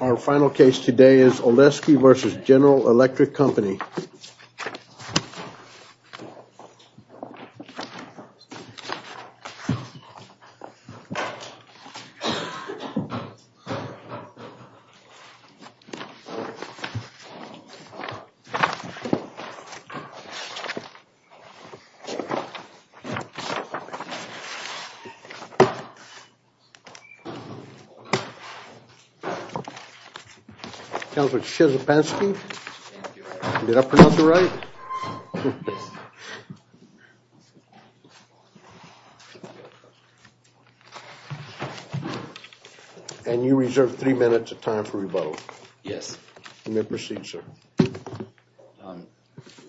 Our final case today is Olesky v. General Electric Company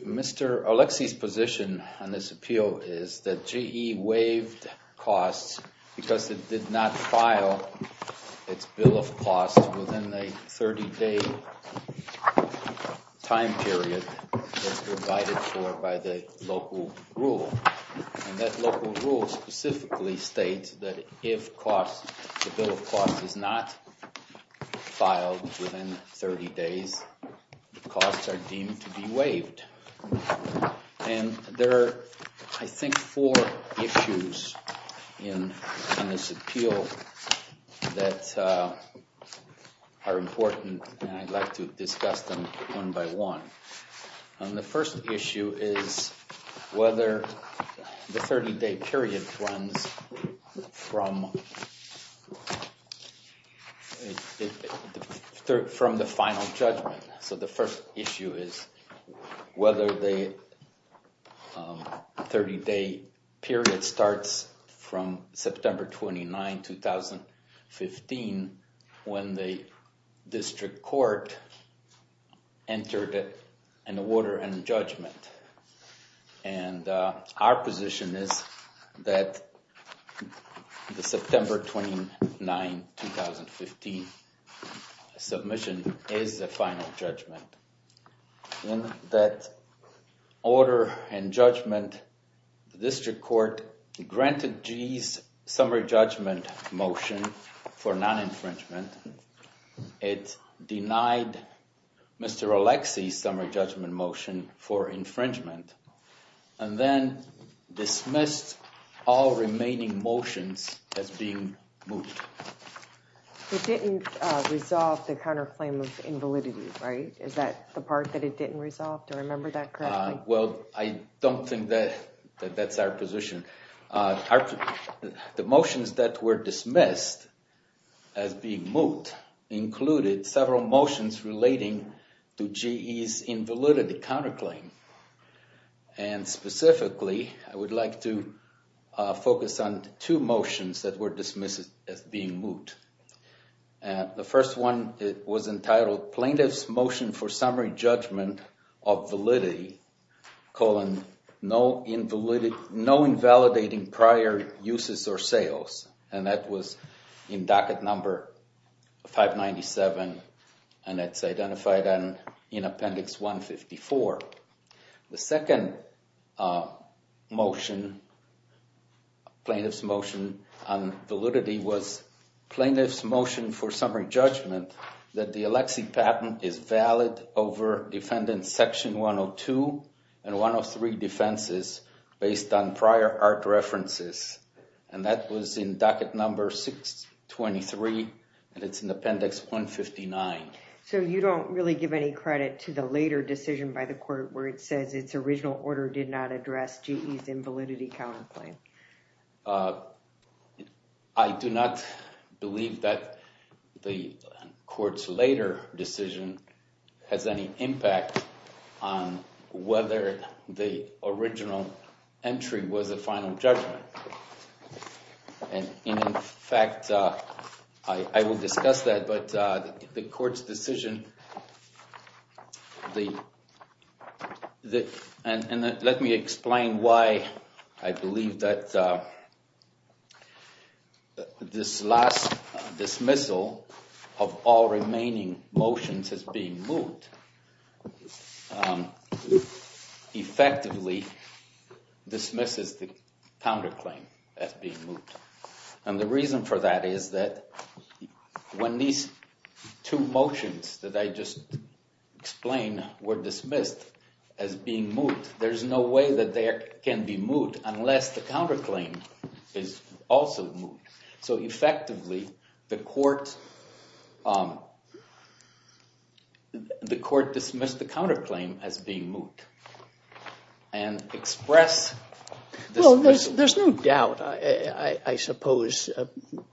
Mr. Olesky's position on this appeal is that GE waived costs because it did not file its bill of cost within a 30-day time period as provided for by the local rule. And that local rule specifically states that if the bill of cost is not filed within 30 days, the costs are deemed to be waived. And there are, I think, four issues in this appeal that are important and I'd like to discuss them one by one. The first issue is whether the 30-day period runs from the final judgment. So the first issue is whether the 30-day period starts from September 29, 2015 when the district court entered an order and judgment. And our position is that the September 29, 2015 submission is the final judgment. In that order and judgment, the district court granted GE's summary judgment motion for non-infringement. It denied Mr. Olesky's summary judgment motion for infringement and then dismissed all remaining motions as being moved. It didn't resolve the counterclaim of invalidity, right? Is that the part that it didn't resolve? Do I remember that correctly? Well, I don't think that that's our position. The motions that were dismissed as being moved included several motions relating to GE's invalidity counterclaim. And specifically, I would like to focus on two motions that were dismissed as being moved. The first one was entitled Plaintiff's Motion for Summary Judgment of Validity, colon, No Invalidating Prior Uses or Sales. And that was in docket number 597 and that's identified in Appendix 154. The second motion, Plaintiff's Motion on Validity, was Plaintiff's Motion for Summary Judgment that the Alexie patent is valid over Defendant Section 102 and 103 defenses based on prior art references. And that was in docket number 623 and it's in Appendix 159. So you don't really give any credit to the later decision by the court where it says its original order did not address GE's invalidity counterclaim? I do not believe that the court's later decision has any impact on whether the original entry was a final judgment. And in fact, I will discuss that, but the court's decision, and let me explain why I believe that this last dismissal of all remaining motions as being moved effectively dismisses the counterclaim as being moved. And the reason for that is that when these two motions that I just explained were dismissed as being moved, there's no way that they can be moved unless the counterclaim is also moved. So effectively, the court dismissed the counterclaim as being moved and expressed... Well, there's no doubt, I suppose,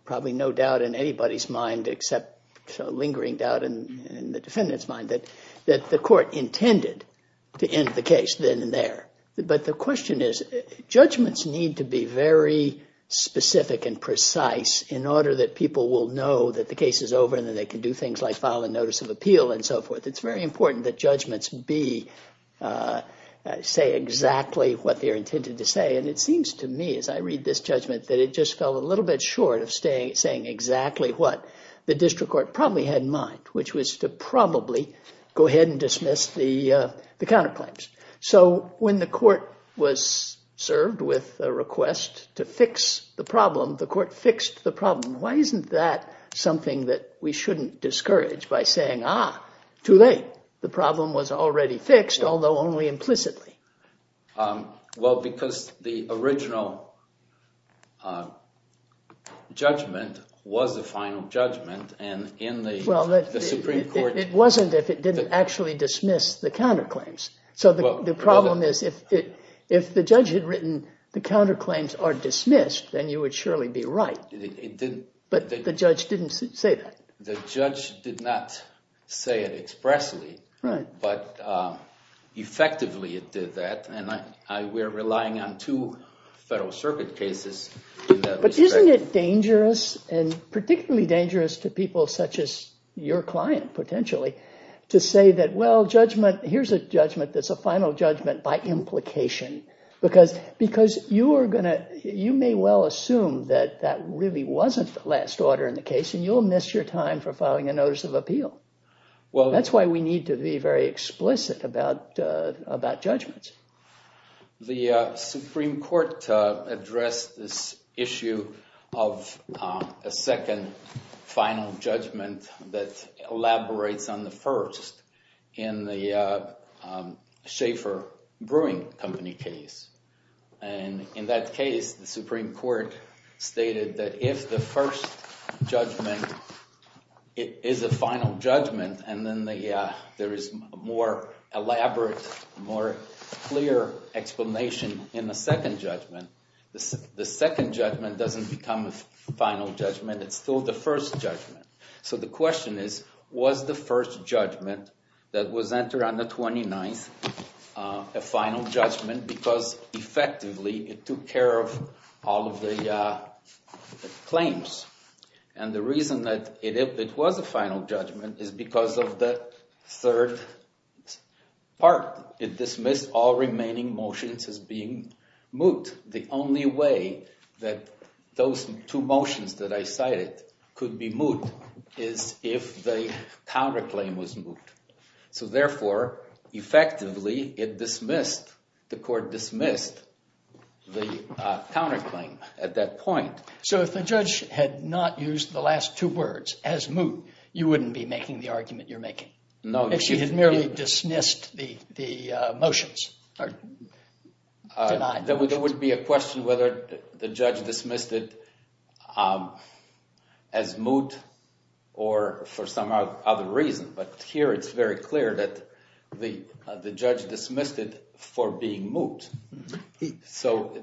probably no doubt in anybody's mind except lingering doubt in the defendant's mind that the court intended to end the case then and there. But the question is, judgments need to be very specific and precise in order that people will know that the case is over and that they can do things like file a notice of appeal and so forth. It's very important that judgments be, say exactly what they're intended to say. And it seems to me as I read this judgment that it just fell a little bit short of saying exactly what the district court probably had in mind, which was to probably go ahead and dismiss the counterclaims. So when the court was served with a request to fix the problem, the court fixed the problem. Why isn't that something that we shouldn't discourage by saying, ah, too late, the problem was already fixed, although only implicitly? Well, because the original judgment was the final judgment and in the Supreme Court... The problem is if the judge had written the counterclaims are dismissed, then you would surely be right. But the judge didn't say that. The judge did not say it expressly, but effectively it did that. And we're relying on two Federal Circuit cases. But isn't it dangerous and particularly dangerous to people such as your client potentially to say that, well, judgment, here's a judgment that's a final judgment by implication? Because you may well assume that that really wasn't the last order in the case and you'll miss your time for filing a notice of appeal. Well, that's why we need to be very explicit about judgments. The Supreme Court addressed this issue of a second final judgment that elaborates on the first in the Schaeffer Brewing Company case. And in that case, the Supreme Court stated that if the first judgment is a final judgment and then there is a more elaborate, more clear explanation in the second judgment, the second judgment doesn't become a final judgment. It's still the first judgment. So the question is, was the first judgment that was entered on the 29th a final judgment because effectively it took care of all of the claims? And the reason that it was a final judgment is because of the third part. It dismissed all remaining motions as being moot. The only way that those two motions that I cited could be moot is if the counterclaim was moot. So therefore, effectively it dismissed, the court dismissed the counterclaim at that point. So if the judge had not used the last two words as moot, you wouldn't be making the argument you're making? No. She had merely dismissed the motions. There would be a question whether the judge dismissed it as moot or for some other reason. But here it's very clear that the judge dismissed it for being moot. So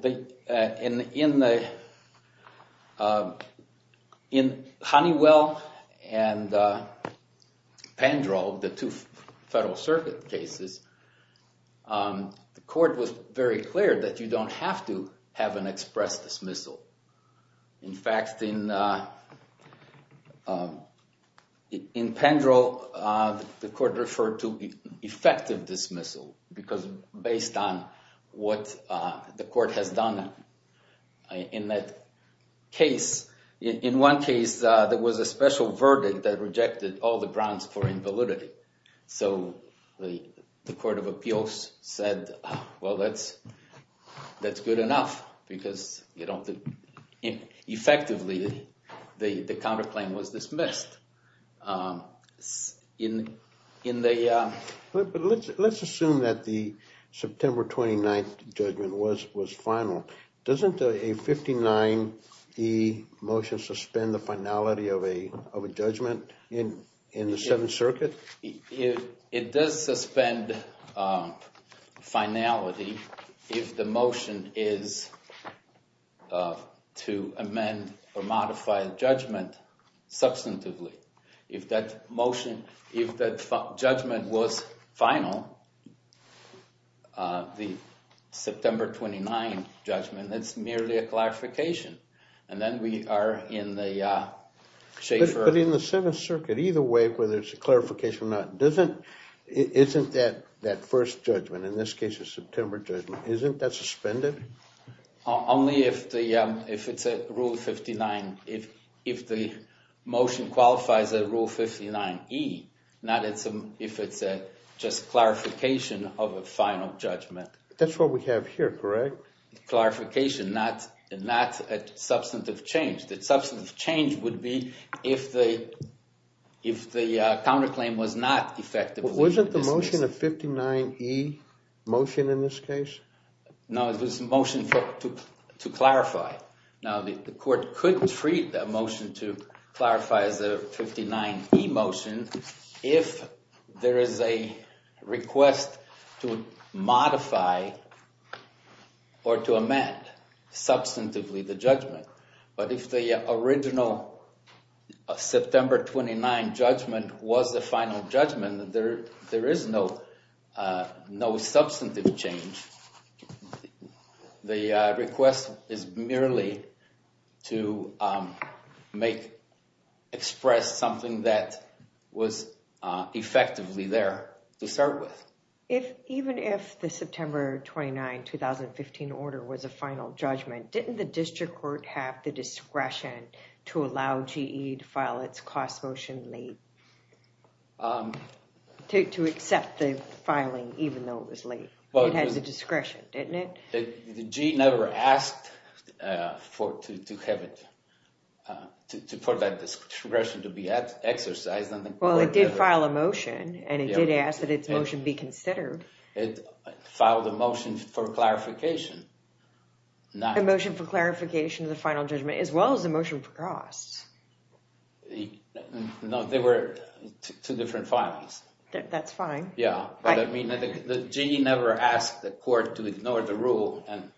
in Honeywell and Penderel, the two Federal Circuit cases, the court was very clear that you don't have to have an express dismissal. In fact, in Penderel, the court referred to effective dismissal because based on what the court has done in that case. In one case, there was a special verdict that rejected all the grounds for invalidity. So the Court of Appeals said, well, that's good enough because effectively the counterclaim was dismissed. But let's assume that the September 29th judgment was final. Doesn't a 59E motion suspend the finality of a judgment in the Seventh Circuit? It does suspend finality if the motion is to amend or modify the judgment substantively. If that judgment was final, the September 29th judgment, that's merely a clarification. But in the Seventh Circuit, either way, whether it's a clarification or not, isn't that first judgment, in this case a September judgment, isn't that suspended? Only if it's a Rule 59, if the motion qualifies a Rule 59E, not if it's just a clarification of a final judgment. That's what we have here, correct? Clarification, not substantive change. Substantive change would be if the counterclaim was not effectively dismissed. Wasn't the motion a 59E motion in this case? No, it was a motion to clarify. Now, the court could treat the motion to clarify as a 59E motion if there is a request to modify or to amend substantively the judgment. But if the original September 29th judgment was the final judgment, there is no substantive change. The request is merely to express something that was effectively there to start with. Even if the September 29, 2015 order was a final judgment, didn't the district court have the discretion to allow GE to file its cost motion late? To accept the filing even though it was late. It had the discretion, didn't it? GE never asked for that discretion to be exercised. Well, it did file a motion and it did ask that its motion be considered. It filed a motion for clarification. A motion for clarification of the final judgment as well as a motion for costs. No, they were two different filings. That's fine. Yeah, but I mean, GE never asked the court to ignore the rule and...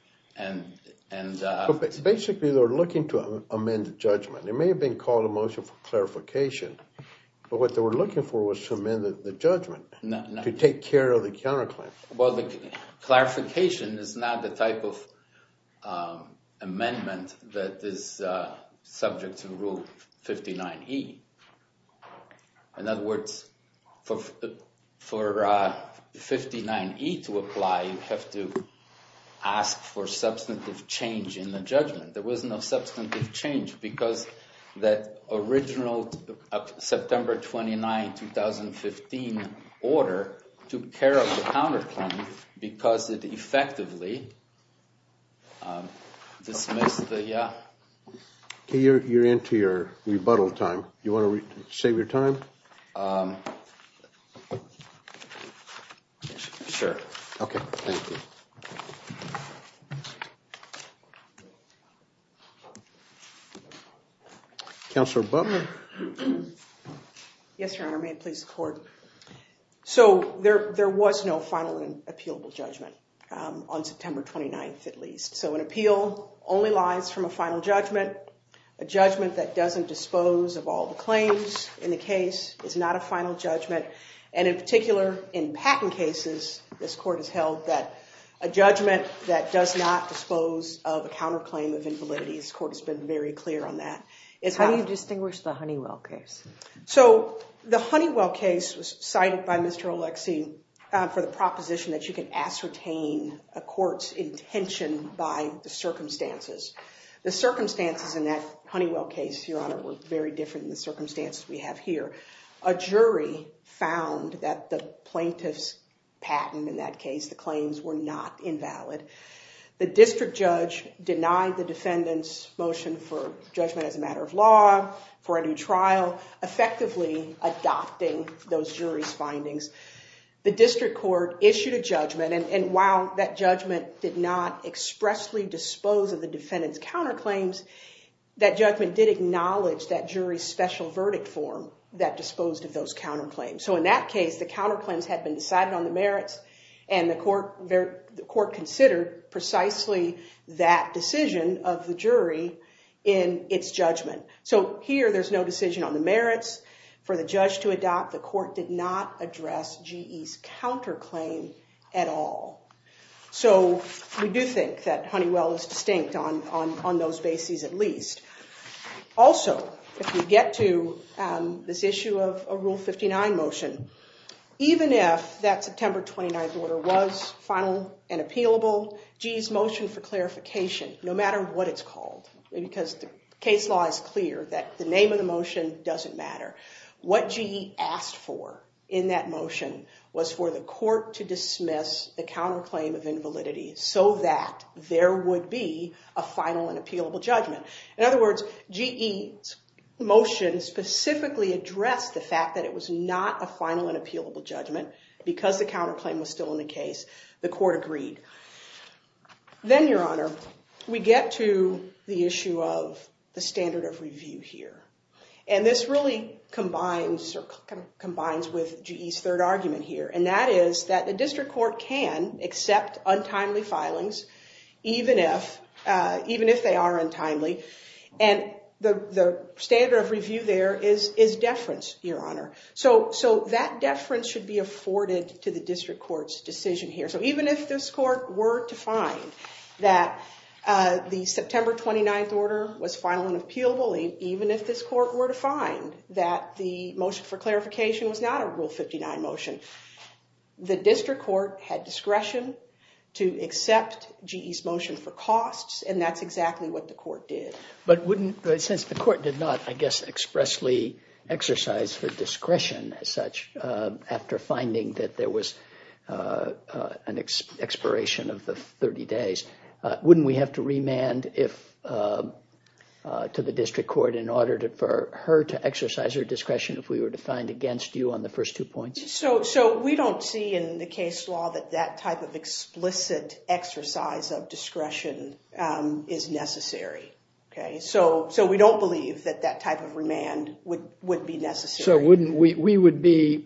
Basically, they're looking to amend the judgment. It may have been called a motion for clarification. But what they were looking for was to amend the judgment to take care of the counterclaim. Well, the clarification is not the type of amendment that is subject to Rule 59E. In other words, for 59E to apply, you have to ask for substantive change in the judgment. There was no substantive change because that original September 29, 2015 order took care of the counterclaim because it effectively dismissed the... Okay, you're into your rebuttal time. You want to save your time? Sure. Okay, thank you. Counselor Butler? Yes, Your Honor, may it please the court. So there was no final and appealable judgment on September 29th, at least. So an appeal only lies from a final judgment. A judgment that doesn't dispose of all the claims in the case is not a final judgment. And in particular, in patent cases, this court has held that a judgment that does not dispose of a counterclaim of invalidity, this court has been very clear on that. How do you distinguish the Honeywell case? So the Honeywell case was cited by Mr. Oleksii for the proposition that you can ascertain a court's intention by the circumstances. The circumstances in that Honeywell case, Your Honor, were very different than the circumstances we have here. A jury found that the plaintiff's patent in that case, the claims, were not invalid. The district judge denied the defendant's motion for judgment as a matter of law for a new trial, effectively adopting those jury's findings. The district court issued a judgment, and while that judgment did not expressly dispose of the defendant's counterclaims, that judgment did acknowledge that jury's special verdict form that disposed of those counterclaims. So in that case, the counterclaims had been decided on the merits, and the court considered precisely that decision of the jury in its judgment. So here, there's no decision on the merits for the judge to adopt. The court did not address GE's counterclaim at all. So we do think that Honeywell is distinct on those bases at least. Also, if we get to this issue of a Rule 59 motion, even if that September 29th order was final and appealable, GE's motion for clarification, no matter what it's called, because the case law is clear that the name of the motion doesn't matter, what GE asked for in that motion was for the court to dismiss the counterclaim of invalidity so that there would be a final and appealable judgment. In other words, GE's motion specifically addressed the fact that it was not a final and appealable judgment because the counterclaim was still in the case. The court agreed. Then, Your Honor, we get to the issue of the standard of review here, and this really combines with GE's third argument here, and that is that the district court can accept untimely filings even if they are untimely. And the standard of review there is deference, Your Honor. So that deference should be afforded to the district court's decision here. So even if this court were to find that the September 29th order was final and appealable, even if this court were to find that the motion for clarification was not a Rule 59 motion, the district court had discretion to accept GE's motion for costs, and that's exactly what the court did. But since the court did not, I guess, expressly exercise the discretion as such after finding that there was an expiration of the 30 days, wouldn't we have to remand to the district court in order for her to exercise her discretion if we were to find against you on the first two points? So we don't see in the case law that that type of explicit exercise of discretion is necessary. So we don't believe that that type of remand would be necessary. So we would be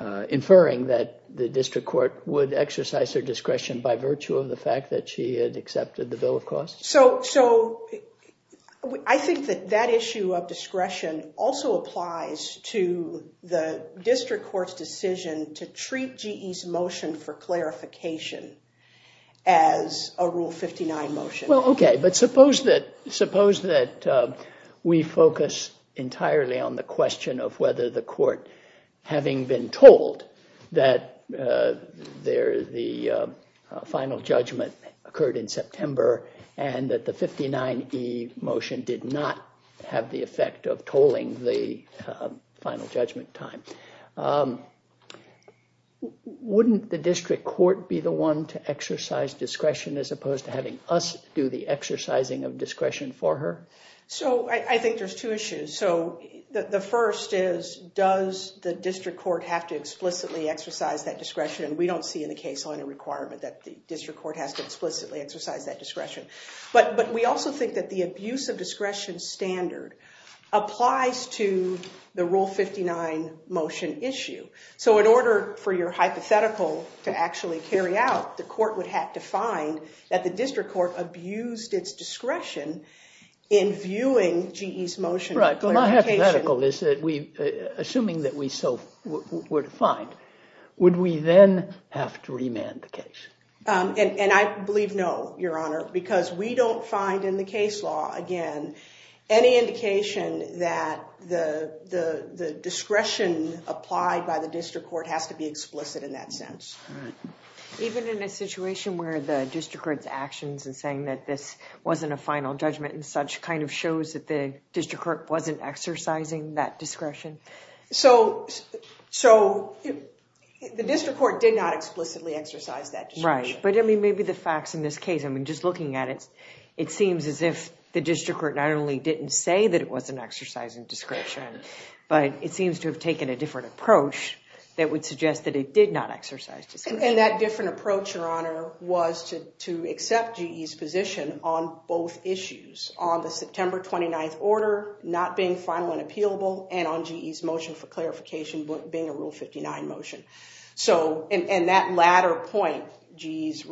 inferring that the district court would exercise her discretion by virtue of the fact that she had accepted the bill of costs? So I think that that issue of discretion also applies to the district court's decision to treat GE's motion for clarification as a Rule 59 motion. Well, OK, but suppose that we focus entirely on the question of whether the court, having been told that the final judgment occurred in September and that the 59E motion did not have the effect of tolling the final judgment time. Wouldn't the district court be the one to exercise discretion as opposed to having us do the exercising of discretion for her? So I think there's two issues. So the first is, does the district court have to explicitly exercise that discretion? And we don't see in the case law any requirement that the district court has to explicitly exercise that discretion. But we also think that the abuse of discretion standard applies to the Rule 59 motion issue. So in order for your hypothetical to actually carry out, the court would have to find that the district court abused its discretion in viewing GE's motion for clarification. Right. Well, my hypothetical is that we, assuming that we so were defined, would we then have to remand the case? And I believe no, Your Honor, because we don't find in the case law, again, any indication that the discretion applied by the district court has to be explicit in that sense. Even in a situation where the district court's actions in saying that this wasn't a final judgment and such kind of shows that the district court wasn't exercising that discretion. So the district court did not explicitly exercise that discretion. Right. But I mean, maybe the facts in this case, I mean, just looking at it, it seems as if the district court not only didn't say that it wasn't exercising discretion, but it seems to have taken a different approach that would suggest that it did not exercise discretion. And that different approach, Your Honor, was to accept GE's position on both issues. On the September 29th order not being final and appealable and on GE's motion for clarification being a Rule 59 motion. And that latter point, GE's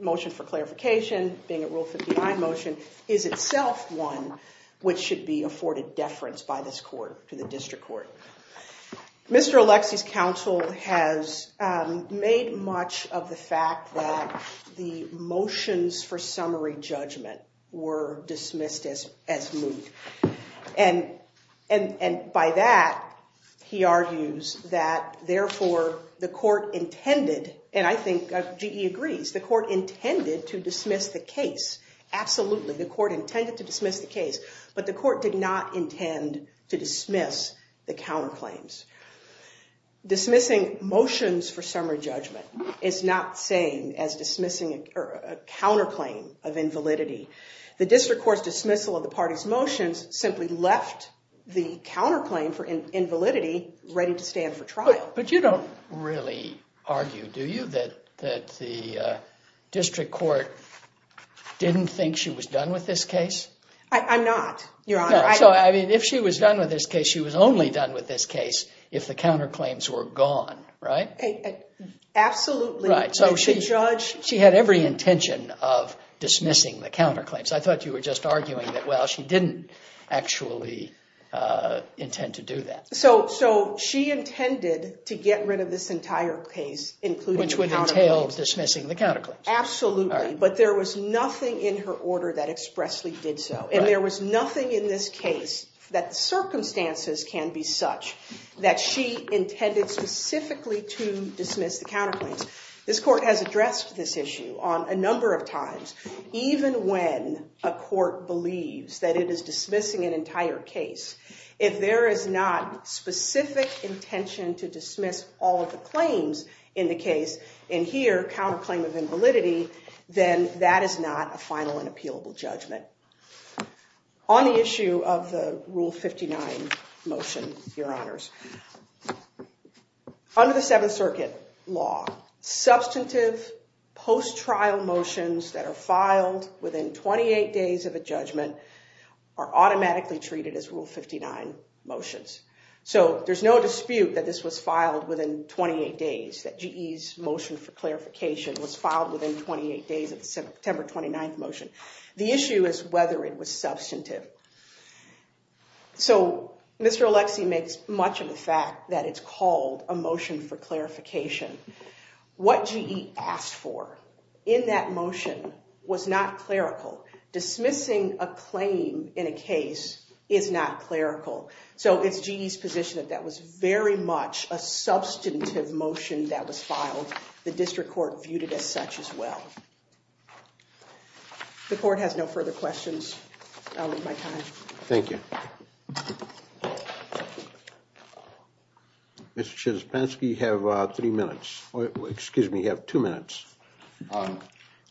motion for clarification being a Rule 59 motion, is itself one which should be afforded deference by this court to the district court. Mr. Alexie's counsel has made much of the fact that the motions for summary judgment were dismissed as moot. And by that, he argues that, therefore, the court intended, and I think GE agrees, the court intended to dismiss the case. Dismissing motions for summary judgment is not the same as dismissing a counterclaim of invalidity. The district court's dismissal of the party's motions simply left the counterclaim for invalidity ready to stand for trial. But you don't really argue, do you, that the district court didn't think she was done with this case? I'm not, Your Honor. So, I mean, if she was done with this case, she was only done with this case if the counterclaims were gone, right? Absolutely. So she had every intention of dismissing the counterclaims. I thought you were just arguing that, well, she didn't actually intend to do that. So she intended to get rid of this entire case, including the counterclaims. Which would entail dismissing the counterclaims. Absolutely. But there was nothing in her order that expressly did so. And there was nothing in this case that the circumstances can be such that she intended specifically to dismiss the counterclaims. This court has addressed this issue a number of times, even when a court believes that it is dismissing an entire case. If there is not specific intention to dismiss all of the claims in the case, in here, counterclaim of invalidity, then that is not a final and appealable judgment. On the issue of the Rule 59 motion, Your Honors. Under the Seventh Circuit law, substantive post-trial motions that are filed within 28 days of a judgment are automatically treated as Rule 59 motions. So there's no dispute that this was filed within 28 days. That GE's motion for clarification was filed within 28 days of the September 29th motion. The issue is whether it was substantive. So Mr. Alexie makes much of the fact that it's called a motion for clarification. What GE asked for in that motion was not clerical. Dismissing a claim in a case is not clerical. So it's GE's position that that was very much a substantive motion that was filed. The district court viewed it as such as well. The court has no further questions. I'll leave my time. Thank you. Mr. Chespensky, you have three minutes. Excuse me, you have two minutes.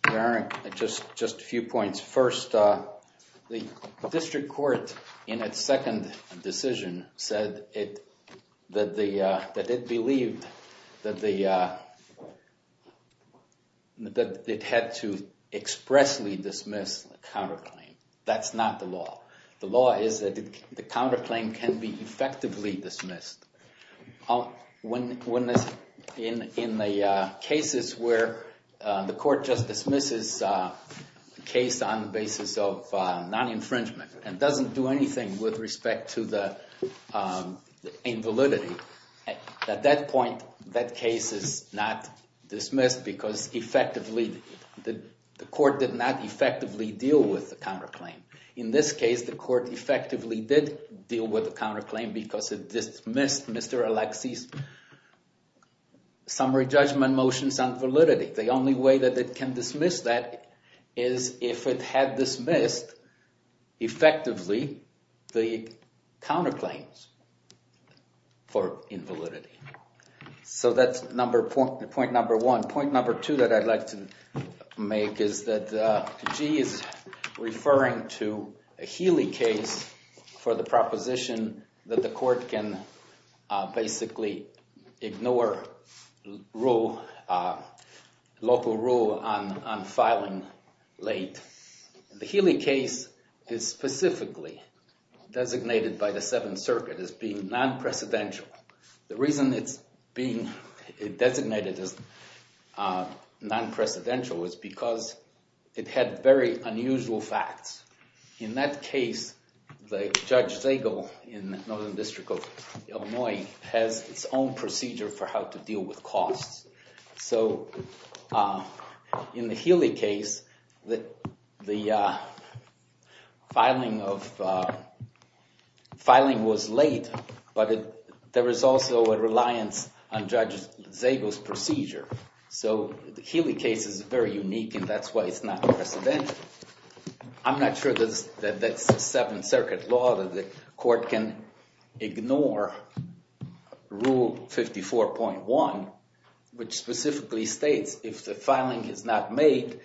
Darren, just a few points. The district court in its second decision said that it believed that it had to expressly dismiss a counterclaim. That's not the law. The law is that the counterclaim can be effectively dismissed. In the cases where the court just dismisses a case on the basis of non-infringement and doesn't do anything with respect to the invalidity, at that point, that case is not dismissed because the court did not effectively deal with the counterclaim. In this case, the court effectively did deal with the counterclaim because it dismissed Mr. Alexie's summary judgment motions on validity. The only way that it can dismiss that is if it had dismissed effectively the counterclaims for invalidity. So that's point number one. Point number two that I'd like to make is that G is referring to a Healy case for the proposition that the court can basically ignore local rule on filing late. The Healy case is specifically designated by the Seventh Circuit as being non-presidential. The reason it's being designated as non-presidential is because it had very unusual facts. In that case, Judge Zagel in the Northern District of Illinois has its own procedure for how to deal with costs. So in the Healy case, the filing was late, but there was also a reliance on Judge Zagel's procedure. So the Healy case is very unique, and that's why it's not presidential. I'm not sure that that's Seventh Circuit law, that the court can ignore Rule 54.1, which specifically states if the filing is not made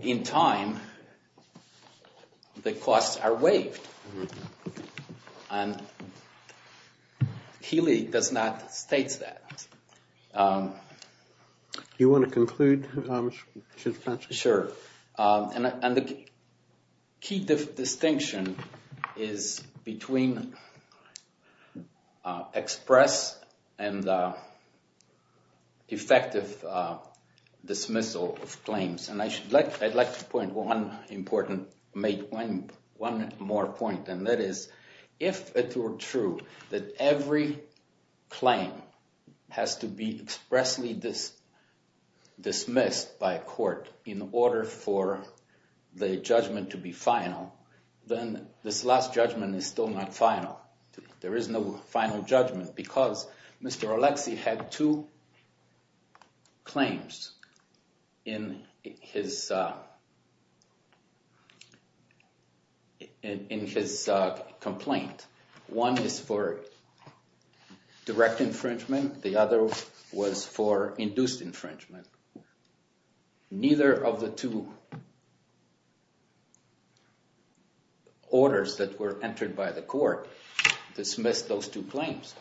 in time, the costs are waived. And Healy does not state that. Do you want to conclude, Judge Fletcher? Sure. And the key distinction is between express and effective dismissal of claims. And I'd like to make one more point, and that is, if it were true that every claim has to be expressly dismissed by a court in order for the judgment to be final, then this last judgment is still not final. There is no final judgment because Mr. Alexie had two claims in his complaint. One is for direct infringement. The other was for induced infringement. Neither of the two orders that were entered by the court dismissed those two claims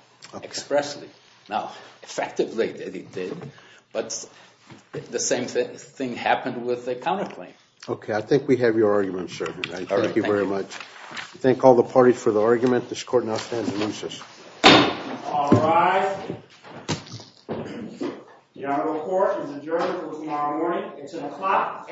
expressly. Now, effectively they did, but the same thing happened with the counterclaim. Okay, I think we have your argument, sir. Thank you very much. Thank all the parties for the argument. This court now stands in unison. All rise. The Honorable Court is adjourned until tomorrow morning at 10 o'clock a.m.